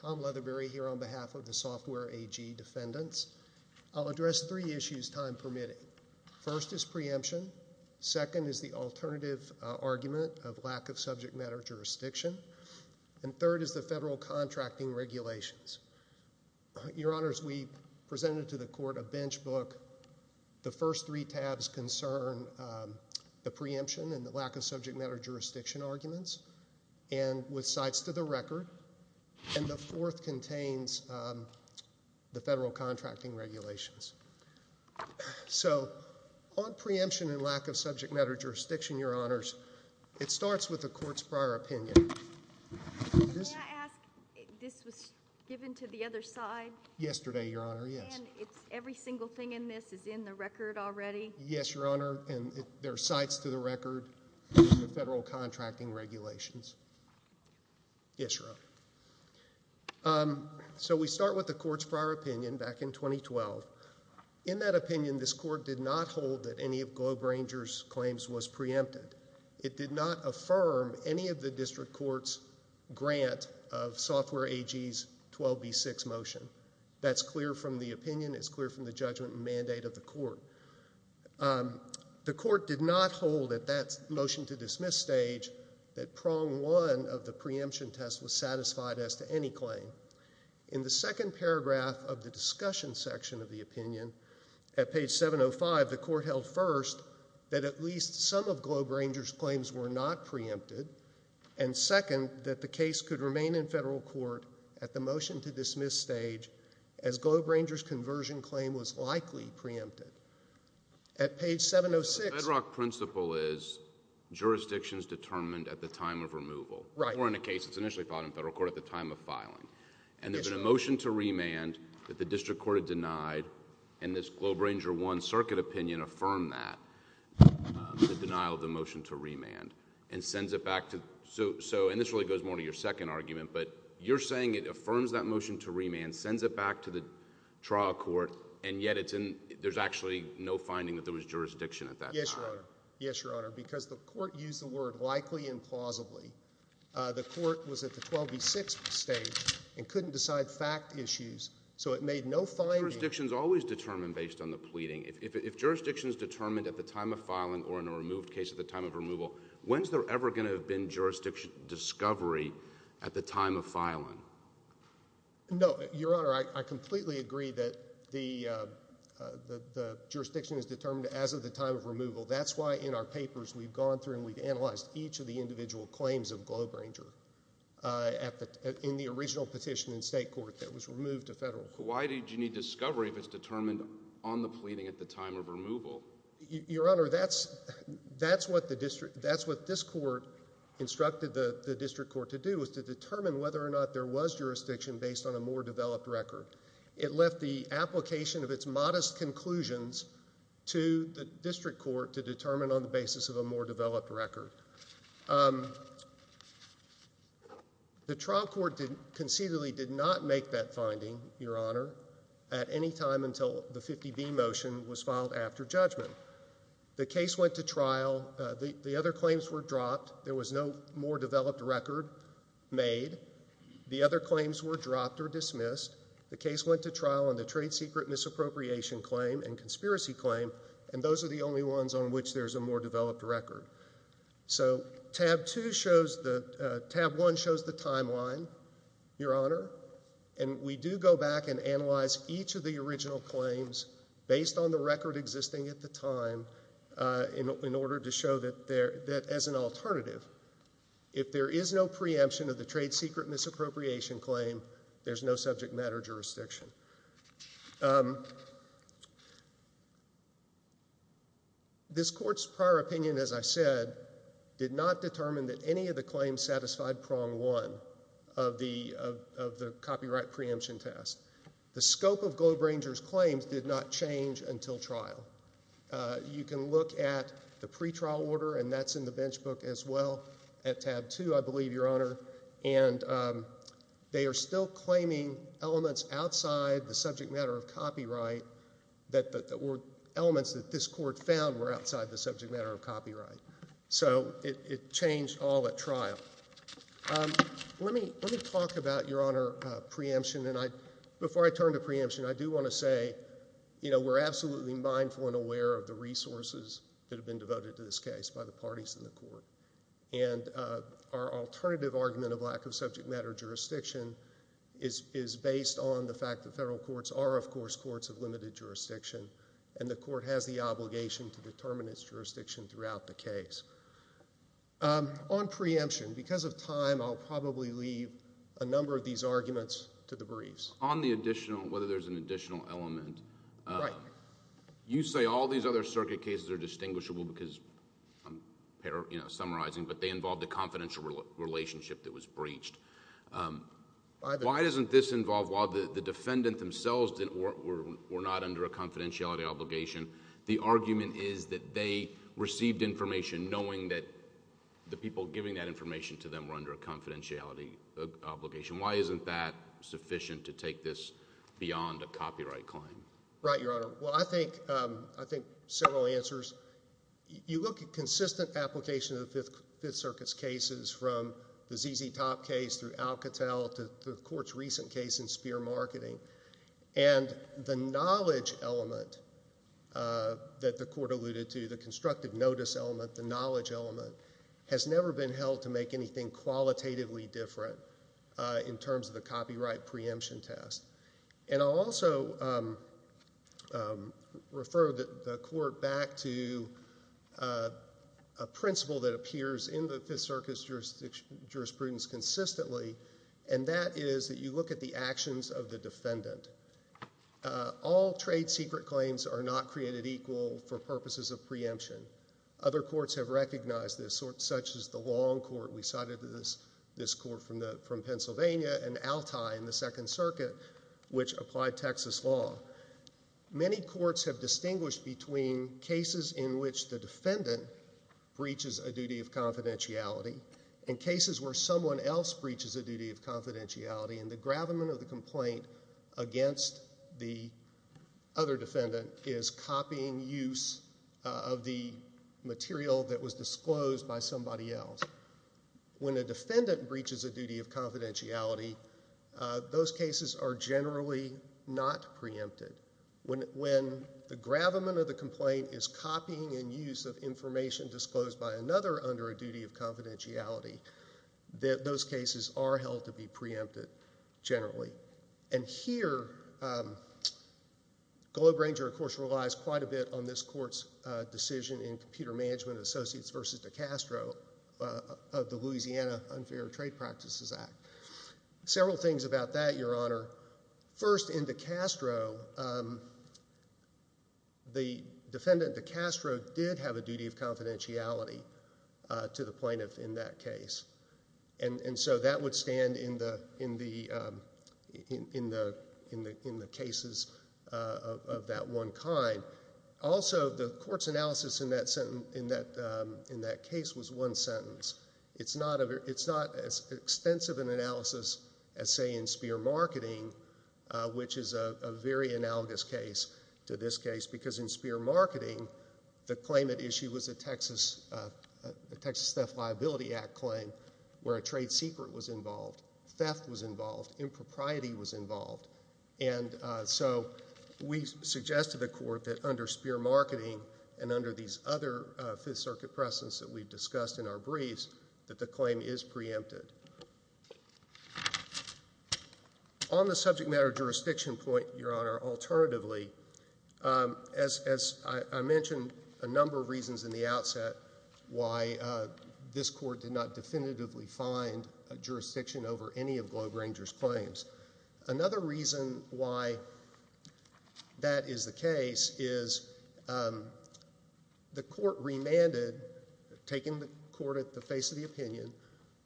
Tom Leatherbury here on behalf of the Software AG defendants. I'll address three issues time-permitting. First is preemption. Second is the alternative argument of lack of subject matter jurisdiction. And third is the federal contracting regulations. Your Honors, we presented to the court a bench book. The first three tabs concern the preemption and the record, and the fourth contains the federal contracting regulations. So on preemption and lack of subject matter jurisdiction, Your Honors, it starts with the court's prior opinion. May I ask, this was given to the other side? Yesterday, Your Honor, yes. And every single thing in this is in the record already? Yes, Your Honor, and there are less to the record than the federal contracting regulations. Yes, Your Honor. So we start with the court's prior opinion back in 2012. In that opinion, this court did not hold that any of GlobeRanger's claims was preempted. It did not affirm any of the district court's grant of Software AG's 12B6 motion. That's clear from the opinion. It's clear from the judgment and mandate of the court. The court did not hold at that motion to dismiss stage that prong one of the preemption test was satisfied as to any claim. In the second paragraph of the discussion section of the opinion, at page 705, the court held first that at least some of GlobeRanger's claims were not preempted, and second, that the case could remain in federal court at the motion to dismiss stage as GlobeRanger's conversion claim was likely preempted. At page 706... The FedRock principle is jurisdictions determined at the time of removal. Right. Or in a case that's initially filed in federal court at the time of filing. And there's been a motion to remand that the district court had denied, and this GlobeRanger 1 circuit opinion affirmed that, the denial of the motion to remand, and sends it back to... And this really goes more to your second argument, but you're saying it affirms that motion to remand, sends it back to the trial court, and yet there's actually no finding that there was jurisdiction at that time. Yes, Your Honor. Because the court used the word likely and plausibly. The court was at the 12B6 stage and couldn't decide fact issues, so it made no finding... But jurisdictions always determine based on the pleading. If jurisdictions determined at the time of filing or in a removed case at the time of removal, when's there ever going to have been jurisdiction discovery at the time of filing? No. Your Honor, I completely agree that the jurisdiction is determined as of the time of removal. That's why in our papers we've gone through and we've analyzed each of the individual claims of GlobeRanger in the original petition in state court that was removed to federal court. Why did you need discovery if it's determined on the pleading at the time of removal? Your Honor, that's what this court instructed the district court to do, was to determine whether or not there was jurisdiction based on a more developed record. It left the application of its modest conclusions to the district court to determine on the basis of a more developed record. The trial court concededly did not make that finding, Your Honor, at any time until the 50B motion was filed after judgment. The case went to trial. The other claims were dropped. There was no more developed record made. The other claims were dropped or dismissed. The case went to trial on the trade secret misappropriation claim and conspiracy claim, and those are the only ones on which there's a more developed record. So Tab 1 shows the timeline, Your Honor, and we do go back and analyze each of the original claims based on the record existing at the time in order to show that as an alternative, if there is no preemption of the trade secret misappropriation claim, there's no subject matter jurisdiction. This court's prior opinion, as I said, did not determine that any of the claims satisfied Prong 1 of the copyright preemption test. The scope of Globe Ranger's claims did not change until trial. You can look at the pretrial order, and that's in the bench book as well at Tab 2, I believe, Your Honor, and they are still claiming elements outside the subject matter of copyright that were elements that this court found were outside the subject matter of copyright. So it changed all at trial. Let me talk about, Your Honor, preemption, and before I turn to preemption, I do want to say we're absolutely mindful and aware of the resources that have been devoted to this case by the parties in the court, and our alternative argument of lack of subject matter jurisdiction is based on the fact that federal courts are, of course, courts of limited jurisdiction, and the court has the obligation to determine its jurisdiction throughout the case. On preemption, because of time, I'll probably leave a number of these arguments to the briefs. On the additional, whether there's an additional element... Right. You say all these other circuit cases are distinguishable because I'm summarizing, but they involve the confidential relationship that was breached. By the... Why doesn't this involve, while the defendant themselves were not under a confidentiality obligation, the argument is that they received information knowing that the people giving that information to them were under a confidentiality obligation. Why isn't that sufficient to take this beyond a copyright claim? Right, Your Honor. Well, I think several answers. You look at consistent application of the Fifth Circuit's cases from the ZZ Top case through Alcatel to the court's recent case in Speer Marketing, and the knowledge element that the court alluded to, the constructive notice element, the knowledge element has never been held to make anything qualitatively different in terms of the copyright preemption test. I'll also refer the court back to a principle that appears in the Fifth Circuit's jurisprudence consistently, and that is that you look at the actions of the defendant. All trade secret claims are not created equal for purposes of preemption. Other courts have recognized this, such as the Long Court. We cited this court from Pennsylvania and Altai in the Second Circuit, which applied Texas law. Many courts have distinguished between cases in which the defendant breaches a duty of confidentiality and cases where someone else breaches a duty of confidentiality, and the gravamen of the complaint against the other defendant is copying use of the material that was disclosed by somebody else. When a defendant breaches a duty of confidentiality, those cases are generally not preempted. When the gravamen of the complaint is copying and use of information disclosed by another under a duty of confidentiality, those cases are held to be preempted generally. Here, Globe-Ranger, of course, relies quite a bit on this court's decision in Computer Management Associates v. DiCastro of the Louisiana Unfair Trade Practices Act. Several things about that, Your Honor. First, in DiCastro, the defendant DiCastro did have a duty of confidentiality to the plaintiff in that case. That would stand in the cases of that one kind. Also, the court's analysis in that case was one sentence. It's not as extensive an analysis as, say, in Spear Marketing, which is a very analogous case to this case because in Spear Marketing, the claimant issue was a Texas Theft Liability Act claim where a trade secret was involved, theft was involved, impropriety was involved. And so we suggest to the court that under Spear Marketing and under these other Fifth Circuit precedents that we've discussed in our briefs that the claim is preempted. On the subject matter jurisdiction point, Your Honor, alternatively, as I mentioned a number of reasons in the outset why this court did not definitively find a jurisdiction over any of Globe Ranger's claims, another reason why that is the case is the court remanded, taking the court at the face of the opinion,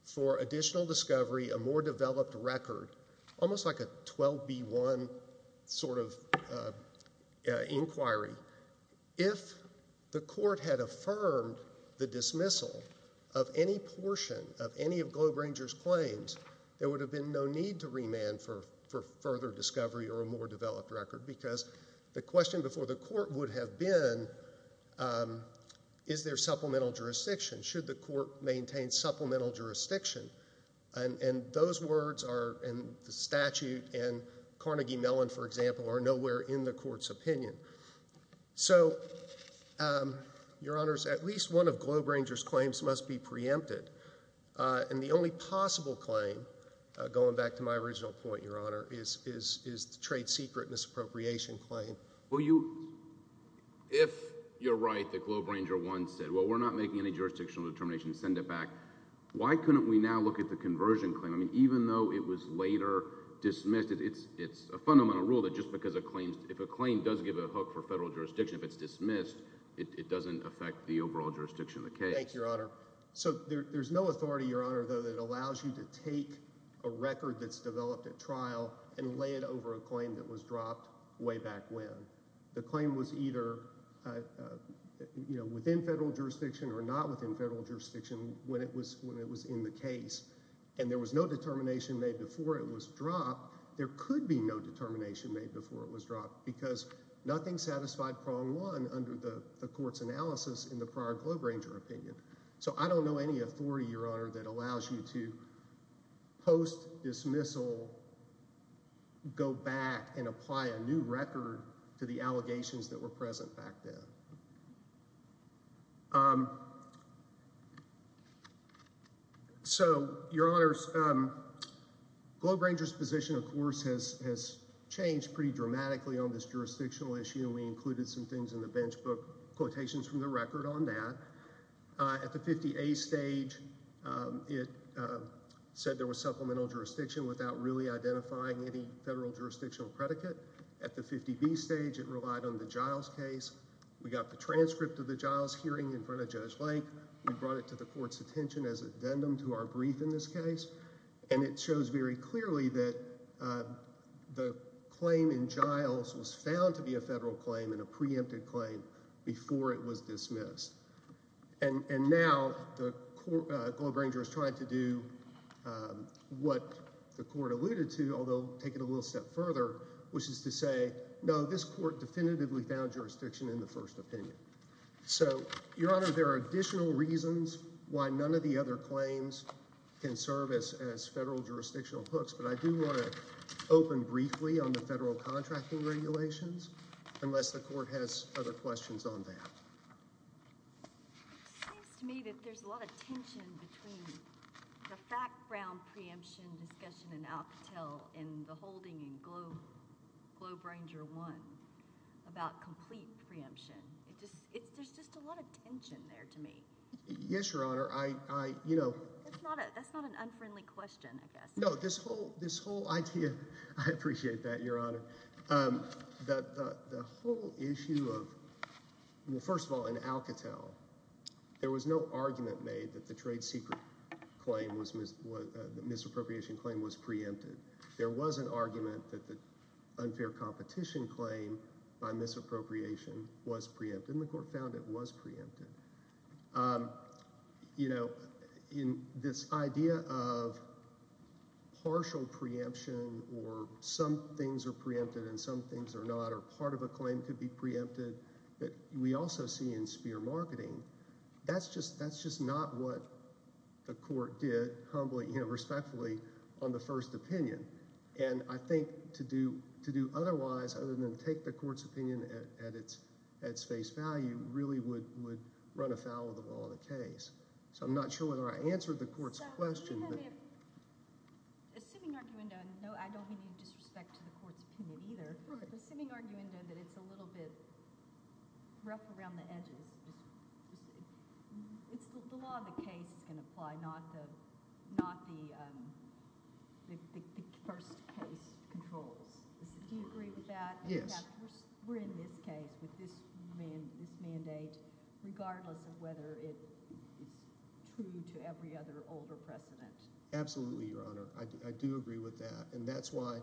for additional discovery, a more developed record, almost like a 12B1 sort of inquiry. If the court had affirmed the dismissal of any portion of any of Globe Ranger's claims, there would have been no need to remand for further discovery or a more developed record because the question before the court would have been, is there supplemental jurisdiction? Should the court maintain supplemental jurisdiction? And those words are in the statute and Carnegie Mellon, for example, are nowhere in the court's opinion. So, Your Honors, at least one of Globe Ranger's claims must be preempted. And the only possible claim, going back to my original point, Your Honor, is the trade secret misappropriation claim. Well, you, if you're right that Globe Ranger 1 said, well, we're not making any jurisdictional determination, send it back, why couldn't we now look at the conversion claim? I mean, even though it was later dismissed, it's a fundamental rule that just because a claim, if a claim does give a hook for federal jurisdiction, if it's dismissed, it doesn't affect the overall jurisdiction of the case. Thank you, Your Honor. So, there's no authority, Your Honor, though, that allows you to take a record that's developed at trial and lay it over a claim that was dropped way back when. The claim was either within federal jurisdiction or not within federal jurisdiction when it was in the case. And there was no determination made before it was dropped. There could be no determination made before it was dropped because nothing satisfied prong one under the court's analysis in the prior Globe Ranger opinion. So, I don't know any authority, Your Honor, that allows you to post dismissal, go back and apply a new record to the allegations that were present back then. So, Your Honors, Globe Ranger's position, of course, has changed pretty dramatically on this jurisdictional issue. We included some things in the bench book, quotations from the record on that. At the 50A stage, it said there was supplemental jurisdiction without really identifying any federal jurisdictional predicate. At the 50B stage, it relied on the Giles case. We got the transcript of the Giles hearing in front of Judge Lake. We brought it to the court's attention as an addendum to our brief in this case. And it shows very clearly that the claim in Giles was found to be a federal claim and a preempted claim before it was dismissed. And now the Globe Ranger is trying to do what the court alluded to, although take it a little step further, which is to say, no, this court definitively found jurisdiction in the first opinion. So, Your Honor, there are additional reasons why none of the other claims can serve as federal jurisdictional hooks, but I do want to open briefly on the federal contracting regulations unless the court has other questions on that. It seems to me that there's a lot of tension between the fact-bound preemption discussion in Alcatel and the holding in Globe Ranger 1 about complete preemption. There's just a lot of tension there to me. Yes, Your Honor. That's not an unfriendly question, I guess. No, this whole idea – I appreciate that, Your Honor. The whole issue of – well, first of all, in Alcatel, there was no argument made that the trade secret misappropriation claim was preempted. There was an argument that the unfair competition claim by misappropriation was preempted, and the court found it was preempted. This idea of partial preemption or some things are preempted and some things are not or part of a claim could be preempted, we also see in SPEAR marketing. That's just not what the court did, humbly, respectfully, on the first opinion. I think to do otherwise other than take the court's opinion at its face value really would run afoul of the law and the case. I'm not sure whether I answered the court's question. Assuming – no, I don't mean you disrespect the court's opinion either. Assuming that it's a little bit rough around the edges, the law of the case is going to apply, not the first case controls. Do you agree with that? Yes. We're in this case with this mandate regardless of whether it's true to every other older precedent. Absolutely, Your Honor. I do agree with that. That's why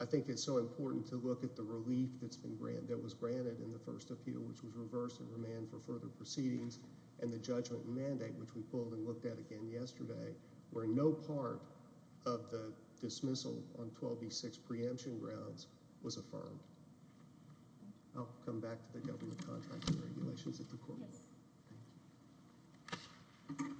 I think it's so important to look at the relief that was granted in the first appeal which was reversed in remand for further proceedings and the judgment mandate which we pulled and looked at again yesterday where no part of the dismissal on 12B6 preemption grounds was affirmed. I'll come back to the government contracting regulations at the court. Yes. Thank you. Thank you.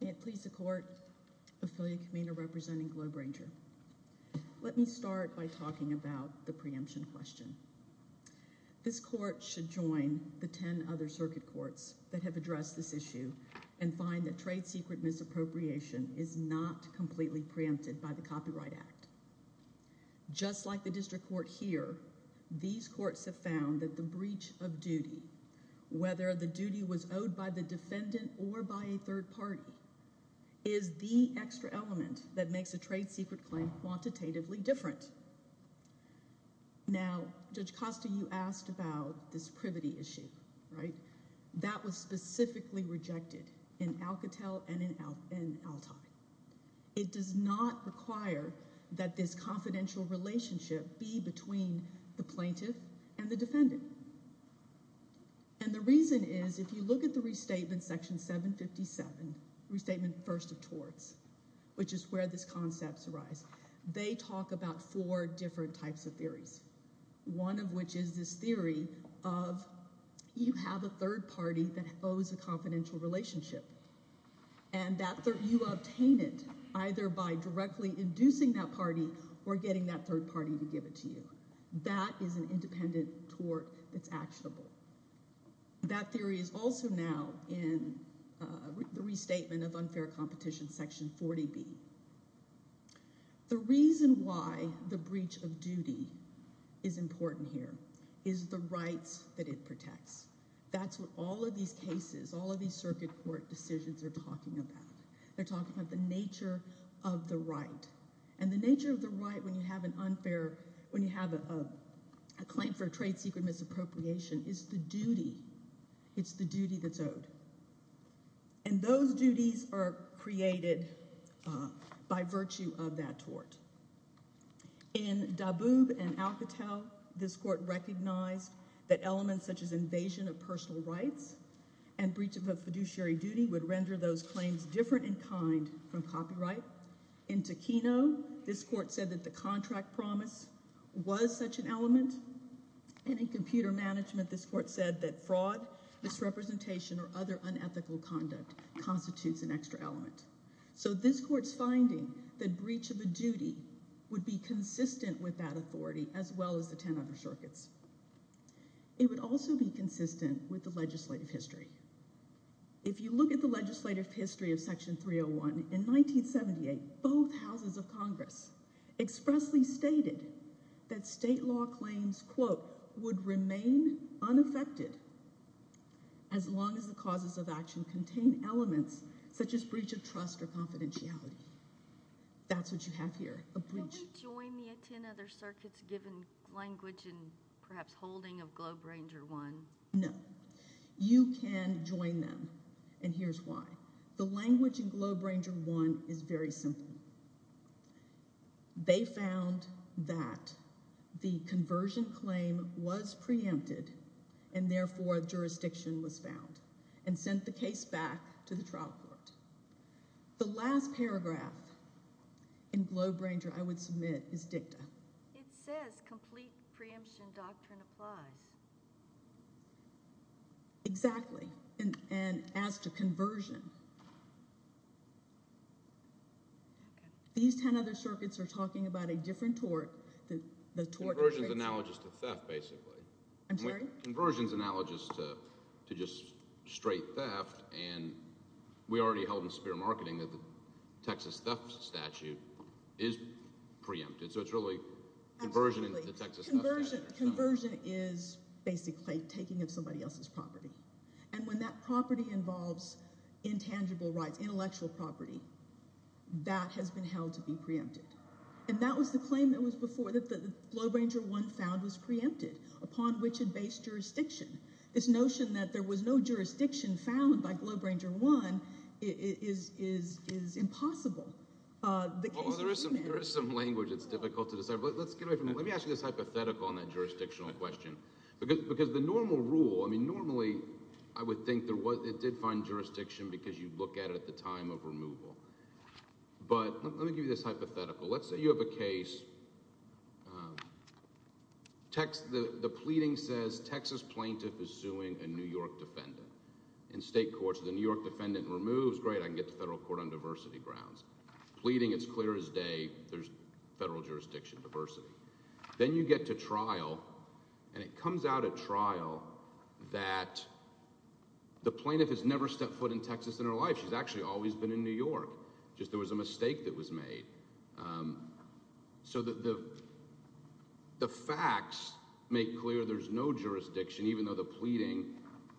May it please the court. Affiliate committee representing Globe Ranger. Let me start by talking about the preemption question. This court should join the ten other circuit courts that have addressed this issue and find that trade secret misappropriation is not completely preempted by the Copyright Act. Just like the district court here, these courts have found that the breach of duty, whether the duty was owed by the defendant or by a third party, is the extra element that makes a trade secret claim quantitatively different. Now, Judge Costa, you asked about this privity issue, right? That was specifically rejected in Alcatel and in Altai. It does not require that this confidential relationship be between the plaintiff and the defendant. And the reason is if you look at the restatement section 757, restatement first of torts, which is where these concepts arise, they talk about four different types of theories, one of which is this theory of you have a third party that owes a confidential relationship. And you obtain it either by directly inducing that party or getting that third party to give it to you. That is an independent tort that's actionable. That theory is also now in the restatement of unfair competition, section 40B. The reason why the breach of duty is important here is the rights that it protects. That's what all of these cases, all of these circuit court decisions are talking about. They're talking about the nature of the right. And the nature of the right when you have an unfair – when you have a claim for a trade secret misappropriation is the duty. It's the duty that's owed. And those duties are created by virtue of that tort. In Daboob and Alcatel, this court recognized that elements such as invasion of personal rights and breach of a fiduciary duty would render those claims different in kind from copyright. In Takino, this court said that the contract promise was such an element. And in computer management, this court said that fraud, misrepresentation, or other unethical conduct constitutes an extra element. So this court's finding that breach of a duty would be consistent with that authority as well as the 10 other circuits. It would also be consistent with the legislative history. If you look at the legislative history of Section 301, in 1978, both houses would remain unaffected as long as the causes of action contained elements such as breach of trust or confidentiality. That's what you have here, a breach. Can we join the 10 other circuits given language and perhaps holding of Globe Ranger 1? No. You can join them, and here's why. The language in Globe Ranger 1 is very simple. They found that the conversion claim was preempted and, therefore, jurisdiction was found and sent the case back to the trial court. The last paragraph in Globe Ranger I would submit is dicta. It says complete preemption doctrine applies. Exactly. As to conversion, these 10 other circuits are talking about a different tort. Conversion is analogous to theft, basically. I'm sorry? Conversion is analogous to just straight theft, and we already held in spear marketing that the Texas theft statute is preempted. So it's really conversion and the Texas theft statute. Conversion is basically taking of somebody else's property, and when that property involves intangible rights, intellectual property, that has been held to be preempted. And that was the claim that was before that Globe Ranger 1 found was preempted, upon which it based jurisdiction. This notion that there was no jurisdiction found by Globe Ranger 1 is impossible. There is some language that's difficult to decipher. Let me ask you this hypothetical on that jurisdictional question. Because the normal rule, I mean normally I would think it did find jurisdiction because you look at it at the time of removal. But let me give you this hypothetical. Let's say you have a case, the pleading says Texas plaintiff is suing a New York defendant. In state courts, the New York defendant removes, great, I can get to federal court on diversity grounds. Pleading, it's clear as day there's federal jurisdiction diversity. Then you get to trial, and it comes out at trial that the plaintiff has never stepped foot in Texas in her life. She's actually always been in New York. Just there was a mistake that was made. So the facts make clear there's no jurisdiction, even though the pleading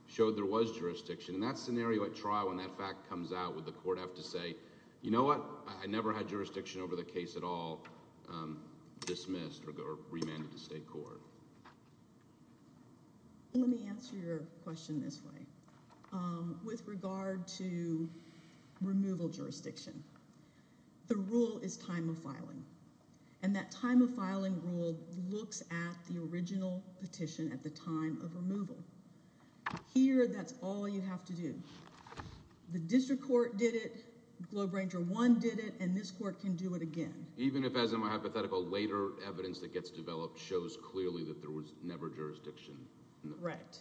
showed there was jurisdiction. And that scenario at trial, when that fact comes out, would the court have to say, you know what, I never had jurisdiction over the case at all, dismissed or remanded to state court? Let me answer your question this way. With regard to removal jurisdiction, the rule is time of filing. And that time of filing rule looks at the original petition at the time of removal. Here, that's all you have to do. The district court did it. Globe Ranger 1 did it. And this court can do it again. Even if, as in my hypothetical, later evidence that gets developed shows clearly that there was never jurisdiction? Right.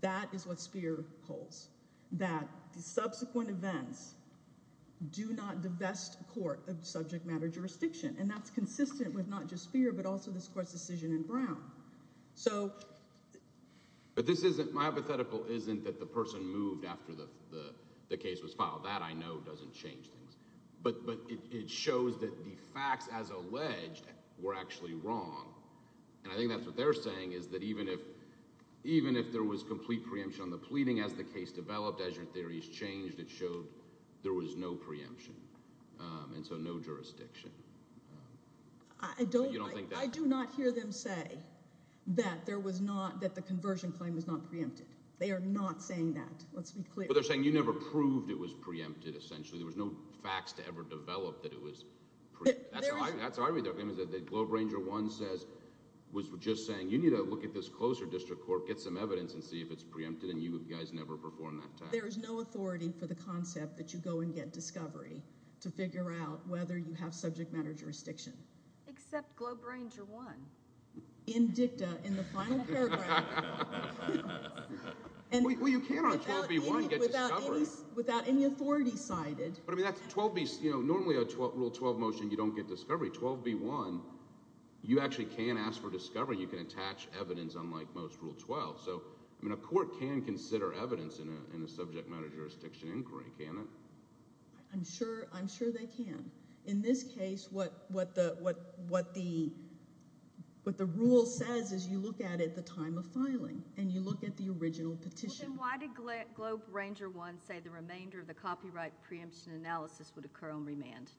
That is what Speer holds, that the subsequent events do not divest court of subject matter jurisdiction. And that's consistent with not just Speer, but also this court's decision in Brown. So... But this isn't... my hypothetical isn't that the person moved after the case was filed. That, I know, doesn't change things. But it shows that the facts as alleged were actually wrong. And I think that's what they're saying is that even if there was complete preemption on the pleading as the case developed, as your theories changed, it showed there was no preemption. I don't... You don't think that... I do not hear them say that there was not... that the conversion claim was not preempted. They are not saying that. Let's be clear. But they're saying you never proved it was preempted, essentially. There was no facts to ever develop that it was preempted. That's what I read. The Globe Ranger 1 says... was just saying you need to look at this closer district court, get some evidence, and see if it's preempted. And you guys never performed that task. There is no authority for the concept that you go and get discovery to figure out whether you have subject matter jurisdiction. Except Globe Ranger 1. In dicta, in the final paragraph... Well, you can on 12b-1 get discovery. Without any authority cited. But, I mean, that's 12b... Normally, a Rule 12 motion, you don't get discovery. 12b-1, you actually can ask for discovery. You can attach evidence, unlike most Rule 12. So, I mean, a court can consider evidence in a subject matter jurisdiction inquiry, can't it? I'm sure they can. In this case, what the Rule says is you look at it at the time of filing. And you look at the original petition. Then why did Globe Ranger 1 say the remainder of the copyright preemption analysis would occur on remand?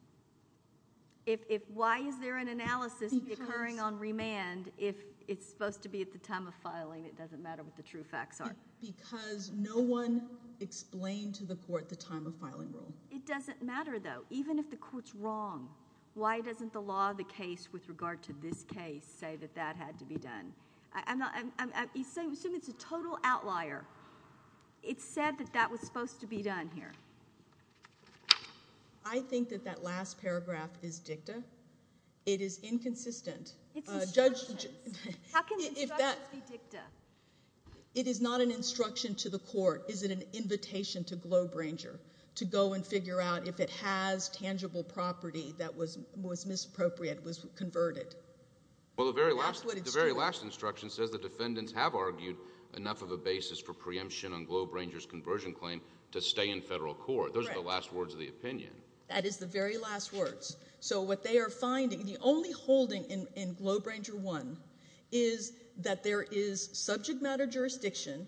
Why is there an analysis occurring on remand if it's supposed to be at the time of filing, it doesn't matter what the true facts are? Because no one explained to the court the time of filing Rule. It doesn't matter, though. Even if the court's wrong, why doesn't the law of the case with regard to this case say that that had to be done? Assume it's a total outlier. It said that that was supposed to be done here. I think that that last paragraph is dicta. It is inconsistent. It's instructions. It is not an instruction to the court. Is it an invitation to Globe Ranger to go and figure out if it has tangible property that was misappropriated, was converted? Well, the very last instruction says the defendants have argued enough of a basis for preemption on Globe Ranger's conversion claim to stay in federal court. Those are the last words of the opinion. That is the very last words. So what they are finding, the only holding in Globe Ranger 1 is that there is subject matter jurisdiction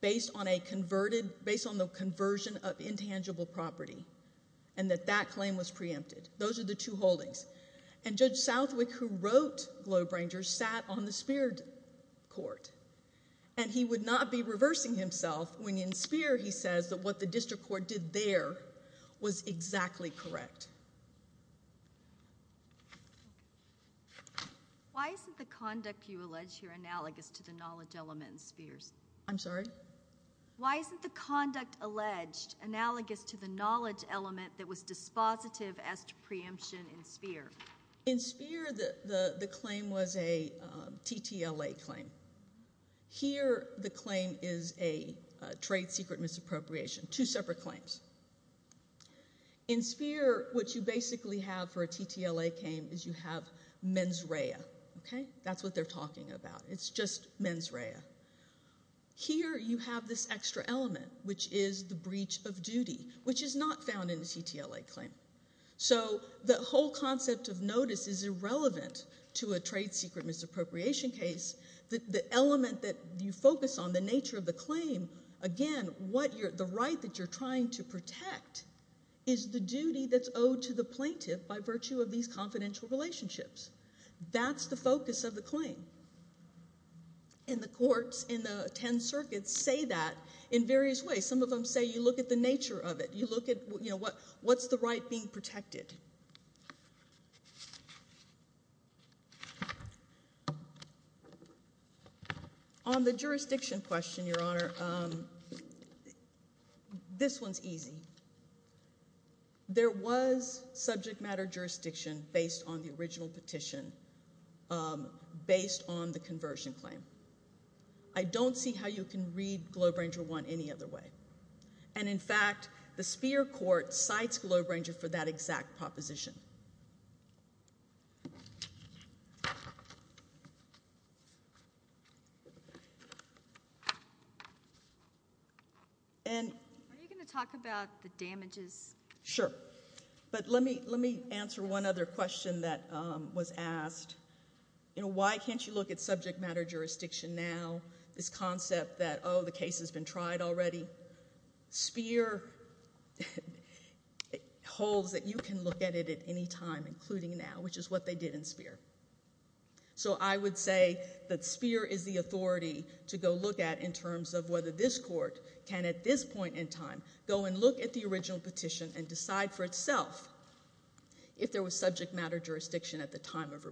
based on the conversion of intangible property and that that claim was preempted. Those are the two holdings. And Judge Southwick, who wrote Globe Ranger, sat on the Spear court, and he would not be reversing himself when in Spear he says that what the district court did there was exactly correct. Why isn't the conduct you allege here analogous to the knowledge element in Spear's? I'm sorry? Why isn't the conduct alleged analogous to the knowledge element that was dispositive as to preemption in Spear? In Spear, the claim was a TTLA claim. Here, the claim is a trade secret misappropriation, two separate claims. In Spear, what you basically have for a TTLA claim is you have mens rea. Okay? That's what they're talking about. It's just mens rea. Here, you have this extra element, which is the breach of duty, which is not found in the TTLA claim. So the whole concept of notice is irrelevant to a trade secret misappropriation case. The element that you focus on, the nature of the claim, again, the right that you're trying to protect is the duty that's owed to the plaintiff by virtue of these confidential relationships. That's the focus of the claim. And the courts in the Ten Circuits say that in various ways. Some of them say you look at the nature of it. You look at, you know, what's the right being protected? On the jurisdiction question, Your Honor, this one's easy. There was subject matter jurisdiction based on the original petition, based on the conversion claim. I don't see how you can read Globe Ranger 1 any other way. And, in fact, the Sphere Court cites Globe Ranger for that exact proposition. Are you going to talk about the damages? Sure. But let me answer one other question that was asked. You know, why can't you look at subject matter jurisdiction now, this concept that, oh, the case has been tried already? Sphere holds that you can look at it at any time, including now, which is what they did in Sphere. So I would say that Sphere is the authority to go look at in terms of whether this court can, at this point in time, go and look at the original petition and decide for itself if there was subject matter jurisdiction at the time of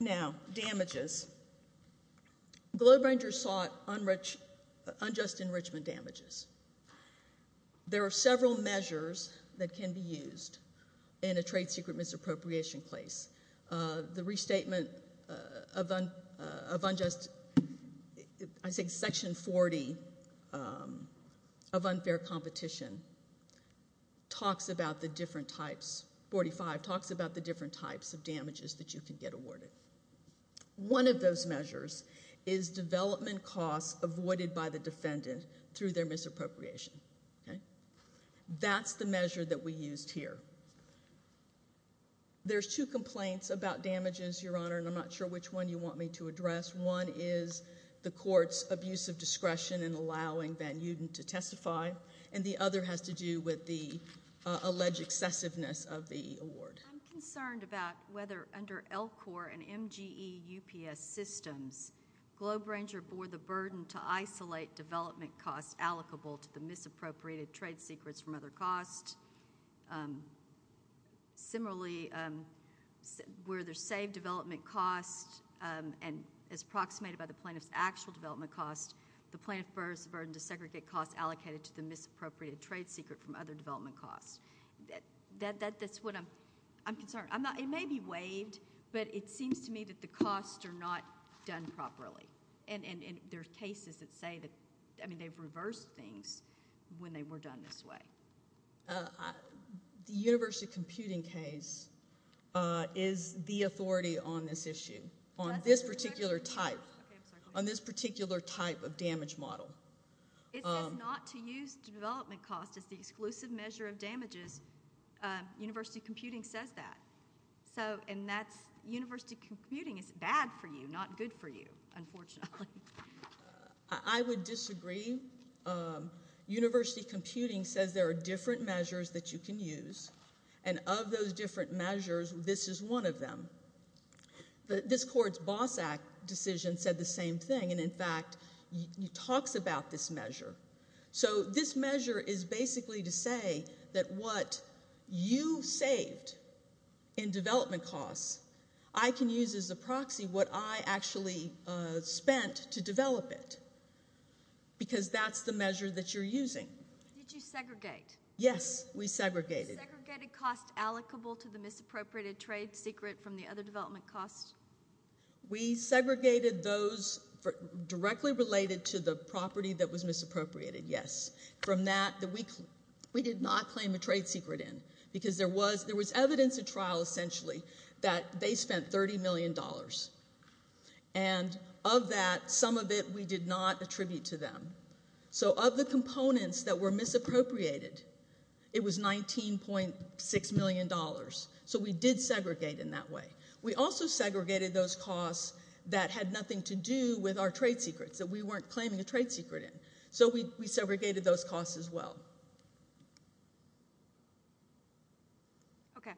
Now, damages. Globe Rangers sought unjust enrichment damages. There are several measures that can be used in a trade secret misappropriation case. The restatement of unjust, I think Section 40 of unfair competition talks about the different types, 45, talks about the different types of damages that you can get awarded. One of those measures is development costs avoided by the defendant through their misappropriation. That's the measure that we used here. There's two complaints about damages, Your Honor, and I'm not sure which one you want me to address. One is the court's abuse of discretion in allowing Van Uden to testify, and the other has to do with the alleged excessiveness of the award. I'm concerned about whether under LCORE and MGE UPS systems, Globe Ranger bore the burden to isolate development costs allocable to the misappropriated trade secrets from other costs. Similarly, where there's saved development costs and is approximated by the plaintiff's actual development costs, the plaintiff bears the burden to segregate costs allocated to the misappropriated trade secret from other development costs. That's what I'm concerned. It may be waived, but it seems to me that the costs are not done properly, and there are cases that say that... they've reversed things when they were done this way. The university computing case is the authority on this issue, on this particular type... Okay, I'm sorry. On this particular type of damage model. It says not to use development costs as the exclusive measure of damages. University computing says that, and that's... University computing is bad for you, not good for you, unfortunately. I would disagree. University computing says there are different measures that you can use, and of those different measures, this is one of them. This court's BOSS Act decision said the same thing, and, in fact, it talks about this measure. This measure is basically to say that what you saved in development costs, I can use as a proxy what I actually spent to develop it, because that's the measure that you're using. Did you segregate? Yes, we segregated. Was the segregated cost allocable to the misappropriated trade secret from the other development costs? We segregated those directly related to the property that was misappropriated, yes. From that, we did not claim a trade secret in, because there was evidence at trial, essentially, that they spent $30 million, and of that, some of it we did not attribute to them. Of the components that were misappropriated, it was $19.6 million. We did segregate in that way. We also segregated those costs that had nothing to do with our trade secrets, that we weren't claiming a trade secret in. We segregated those costs as well. Okay.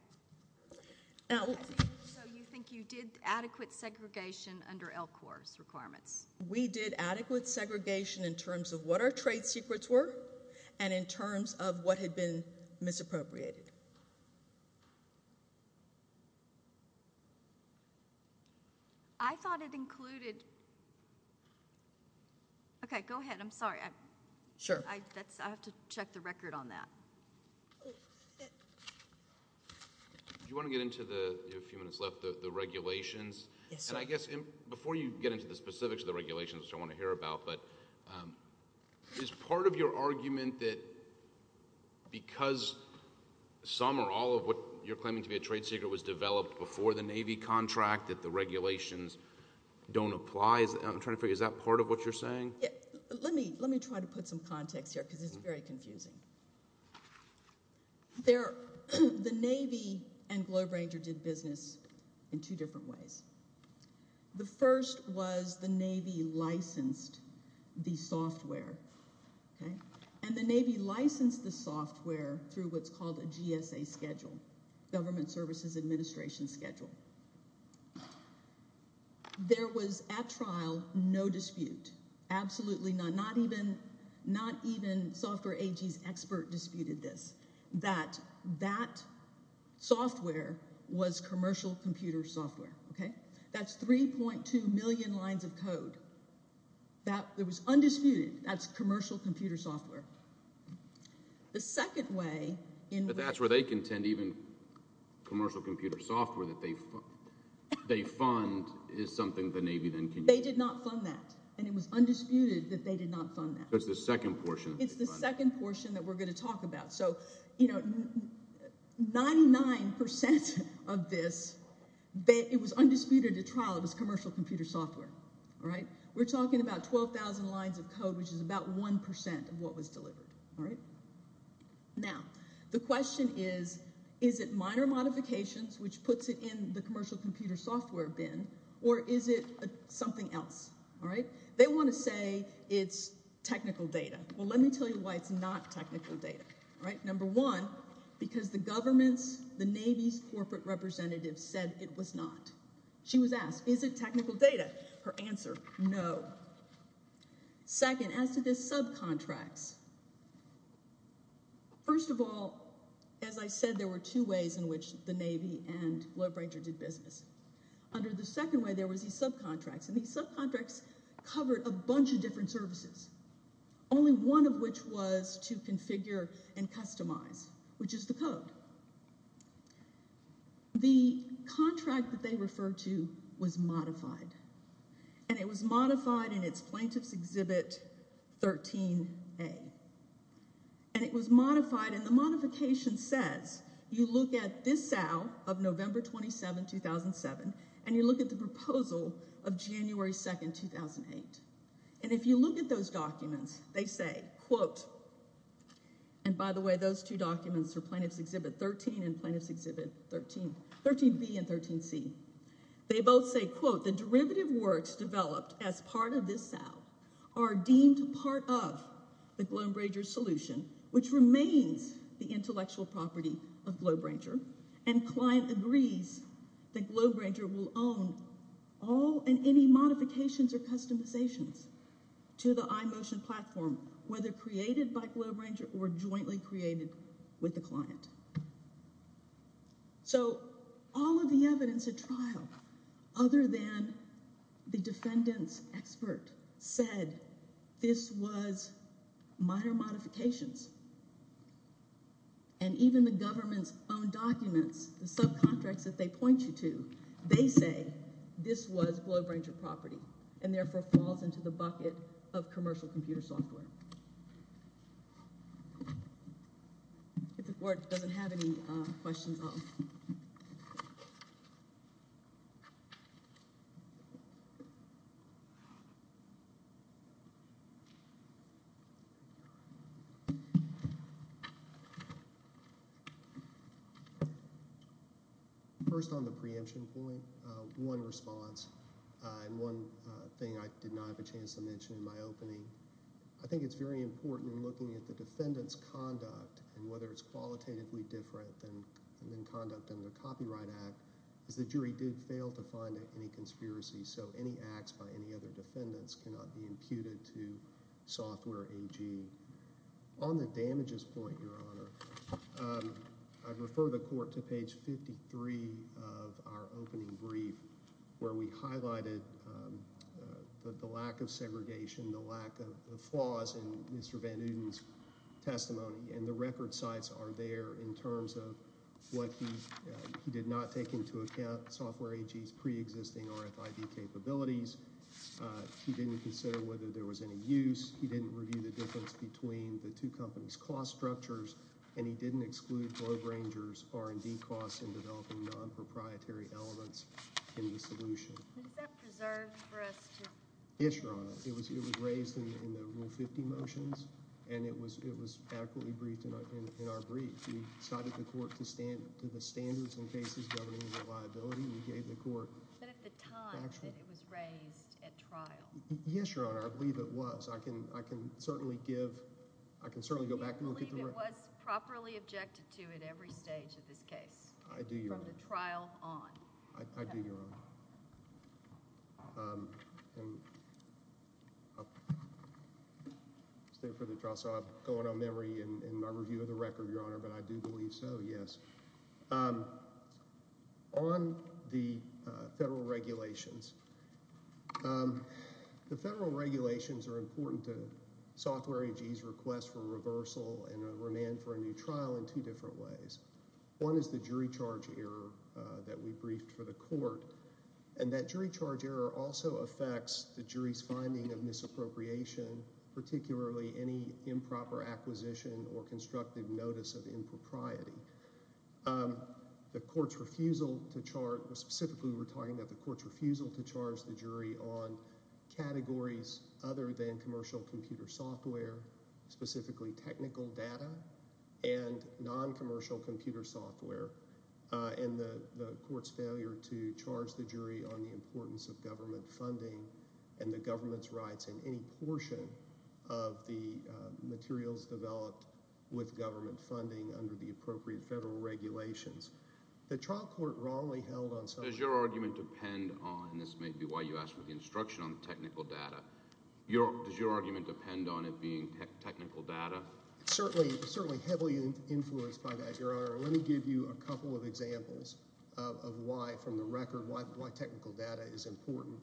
You think you did adequate segregation under LCOR's requirements? We did adequate segregation in terms of what our trade secrets were, and in terms of what had been misappropriated. I thought it included – okay, go ahead. I'm sorry. Sure. I have to check the record on that. Do you want to get into the – you have a few minutes left – the regulations? Yes, sir. I guess before you get into the specifics of the regulations, which I want to hear about, but is part of your argument that because some or all of what you're claiming to be a trade secret was developed before the Navy contract, that the regulations don't apply? I'm trying to figure – is that part of what you're saying? Let me try to put some context here, because it's very confusing. The Navy and Globe Ranger did business in two different ways. The first was the Navy licensed the software, and the Navy licensed the software through what's called a GSA schedule, Government Services Administration schedule. There was, at trial, no dispute. Absolutely not. Not even Software AG's expert disputed this, that that software was commercial computer software. That's 3.2 million lines of code. That was undisputed. That's commercial computer software. The second way in which – But that's where they contend even commercial computer software that they fund is something the Navy then can use. They did not fund that, and it was undisputed that they did not fund that. That's the second portion. It's the second portion that we're going to talk about. So 99% of this, it was undisputed at trial. It was commercial computer software. We're talking about 12,000 lines of code, which is about 1% of what was delivered. Now, the question is, is it minor modifications, which puts it in the They want to say it's technical data. Well, let me tell you why it's not technical data. Number one, because the government's, the Navy's corporate representatives said it was not. She was asked, is it technical data? Her answer, no. Second, as to the subcontracts, first of all, as I said, there were two ways in which the Navy and Lloyd Brangert did business. Under the second way, there was these subcontracts, and these subcontracts covered a bunch of different services, only one of which was to configure and customize, which is the code. The contract that they referred to was modified, and it was modified in its Plaintiff's Exhibit 13A, and it was modified, and the modification says, you look at this SAL of November 27, 2007, and you look at the proposal of January 2, 2008, and if you look at those documents, they say, quote, and by the way, those two documents are Plaintiff's Exhibit 13 and Plaintiff's Exhibit 13, 13B and 13C. They both say, quote, the derivative works developed as part of this SAL are deemed part of the Glombrager solution, which remains the intellectual property of Glombrager, and client agrees that Glombrager will own all and any modifications or customizations to the iMotion platform, whether created by Glombrager or jointly created with the client. So all of the evidence at trial, other than the defendant's expert, said this was minor modifications, and even the government's own documents, the subcontracts that they point you to, they say this was Glombrager property and therefore falls into the bucket of commercial computer software. If the court doesn't have any questions, I'll... First on the preemption point, one response and one thing I did not have a chance to mention in my opening, I think it's very important in looking at the defendant's conduct and whether it's qualitatively different than in conduct under the Copyright Act, is the jury did fail to find any conspiracy, so any acts by any other defendants cannot be imputed to software AG. On the damages point, Your Honor, I refer the court to page 53 of our opening brief where we highlighted the lack of segregation, the lack of flaws in Mr. Van Uden's testimony, and the record sites are there in terms of what he did not take into account, software AG's preexisting RFID capabilities. He didn't consider whether there was any use. He didn't review the difference between the two companies' cost structures, and he didn't exclude Glombranger's R&D costs in developing non-proprietary elements in the solution. Is that preserved for us to... Yes, Your Honor. It was raised in the Rule 50 motions, and it was adequately briefed in our brief. We cited the court to the standards and cases governing reliability, and we gave the court factual... But at the time that it was raised at trial... Yes, Your Honor, I believe it was. I can certainly give... I can certainly go back and look at the... I do, Your Honor. ...from the trial on. I do, Your Honor. I'll stay for the trial, so I'm going on memory in my review of the record, Your Honor, but I do believe so, yes. On the federal regulations, the federal regulations are important to software AG's request for reversal and remand for a new trial in two different ways. One is the jury charge error that we briefed for the court, and that jury charge error also affects the jury's finding of misappropriation, particularly any improper acquisition or constructive notice of impropriety. The court's refusal to charge... Specifically, we're talking about the court's refusal to charge the jury on categories other than commercial computer software, specifically technical data and non-commercial computer software, and the court's failure to charge the jury on the importance of government funding and the government's rights in any portion of the materials developed with government funding under the appropriate federal regulations. The trial court wrongly held on... Does your argument depend on... This may be why you asked for the instruction on technical data. Does your argument depend on it being technical data? It's certainly heavily influenced by that, Your Honor. Let me give you a couple of examples of why, from the record, why technical data is important.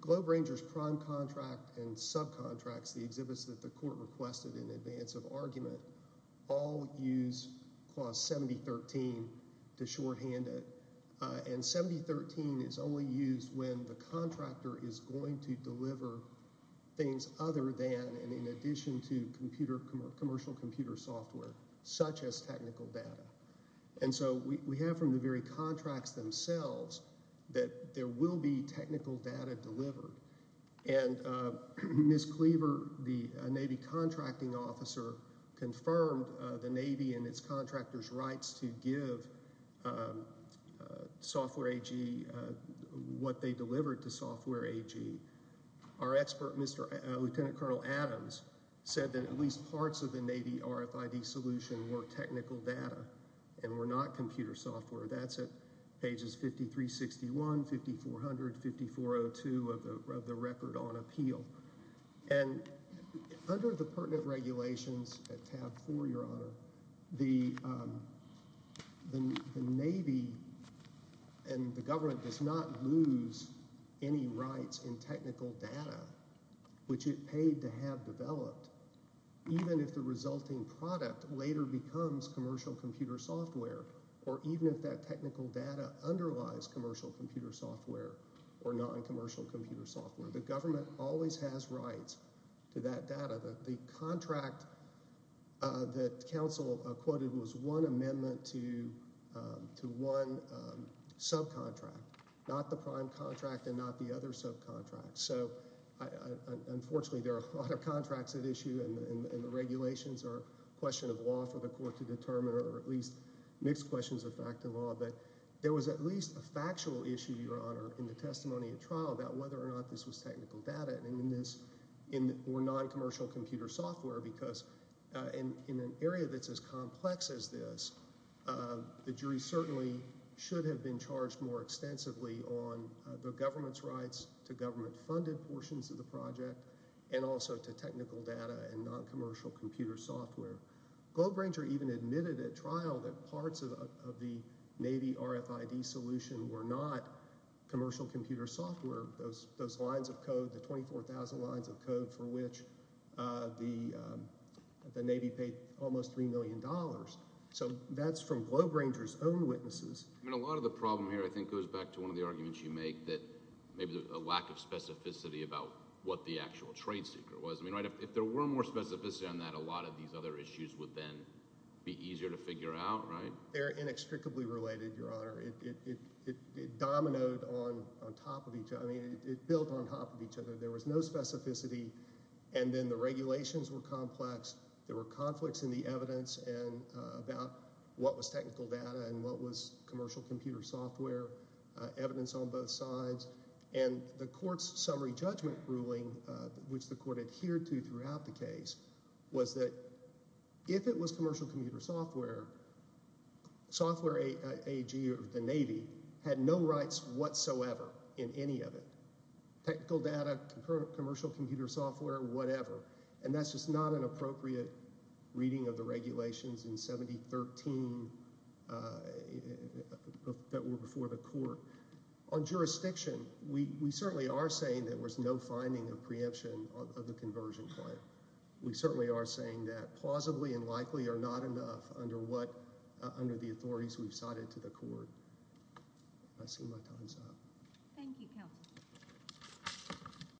GlobeRanger's prime contract and subcontracts, the exhibits that the court requested in advance of argument, all use Clause 70.13 to shorthand it, and 70.13 is only used when the contractor is going to deliver things other than and in addition to commercial computer software, such as technical data. And so we have from the very contracts themselves that there will be technical data delivered. And Ms. Cleaver, the Navy contracting officer, confirmed the Navy and its contractors' rights to give software AG what they delivered to software AG. Our expert, Lieutenant Colonel Adams, said that at least parts of the Navy RFID solution were technical data and were not computer software. That's at pages 5361, 5400, 5402 of the record on appeal. And under the pertinent regulations at tab 4, Your Honor, the Navy and the government does not lose any rights in technical data, which it paid to have developed, even if the resulting product later becomes commercial computer software or even if that technical data underlies commercial computer software or noncommercial computer software. The government always has rights to that data. The contract that counsel quoted was one amendment to one subcontract, not the prime contract and not the other subcontract. So unfortunately there are a lot of contracts at issue, and the regulations are a question of law for the court to determine or at least mixed questions of fact and law. But there was at least a factual issue, Your Honor, in the testimony at trial about whether or not this was technical data or noncommercial computer software because in an area that's as complex as this, the jury certainly should have been charged more extensively on the government's rights to government-funded portions of the project and also to technical data and noncommercial computer software. Goldranger even admitted at trial that parts of the Navy RFID solution were not commercial computer software, those lines of code, the 24,000 lines of code for which the Navy paid almost $3 million. So that's from Goldranger's own witnesses. A lot of the problem here I think goes back to one of the arguments you make that maybe a lack of specificity about what the actual trade secret was. If there were more specificity on that, a lot of these other issues would then be easier to figure out. They're inextricably related, Your Honor. It dominoed on top of each other. I mean it built on top of each other. There was no specificity, and then the regulations were complex. There were conflicts in the evidence about what was technical data and what was commercial computer software, evidence on both sides. And the court's summary judgment ruling, which the court adhered to throughout the case, was that if it was commercial computer software, software AG or the Navy had no rights whatsoever in any of it, technical data, commercial computer software, whatever. And that's just not an appropriate reading of the regulations in 7013 that were before the court. On jurisdiction, we certainly are saying there was no finding of preemption of the conversion claim. We certainly are saying that plausibly and likely we are not enough under the authorities we've cited to the court. I see my time's up. Thank you, counsel.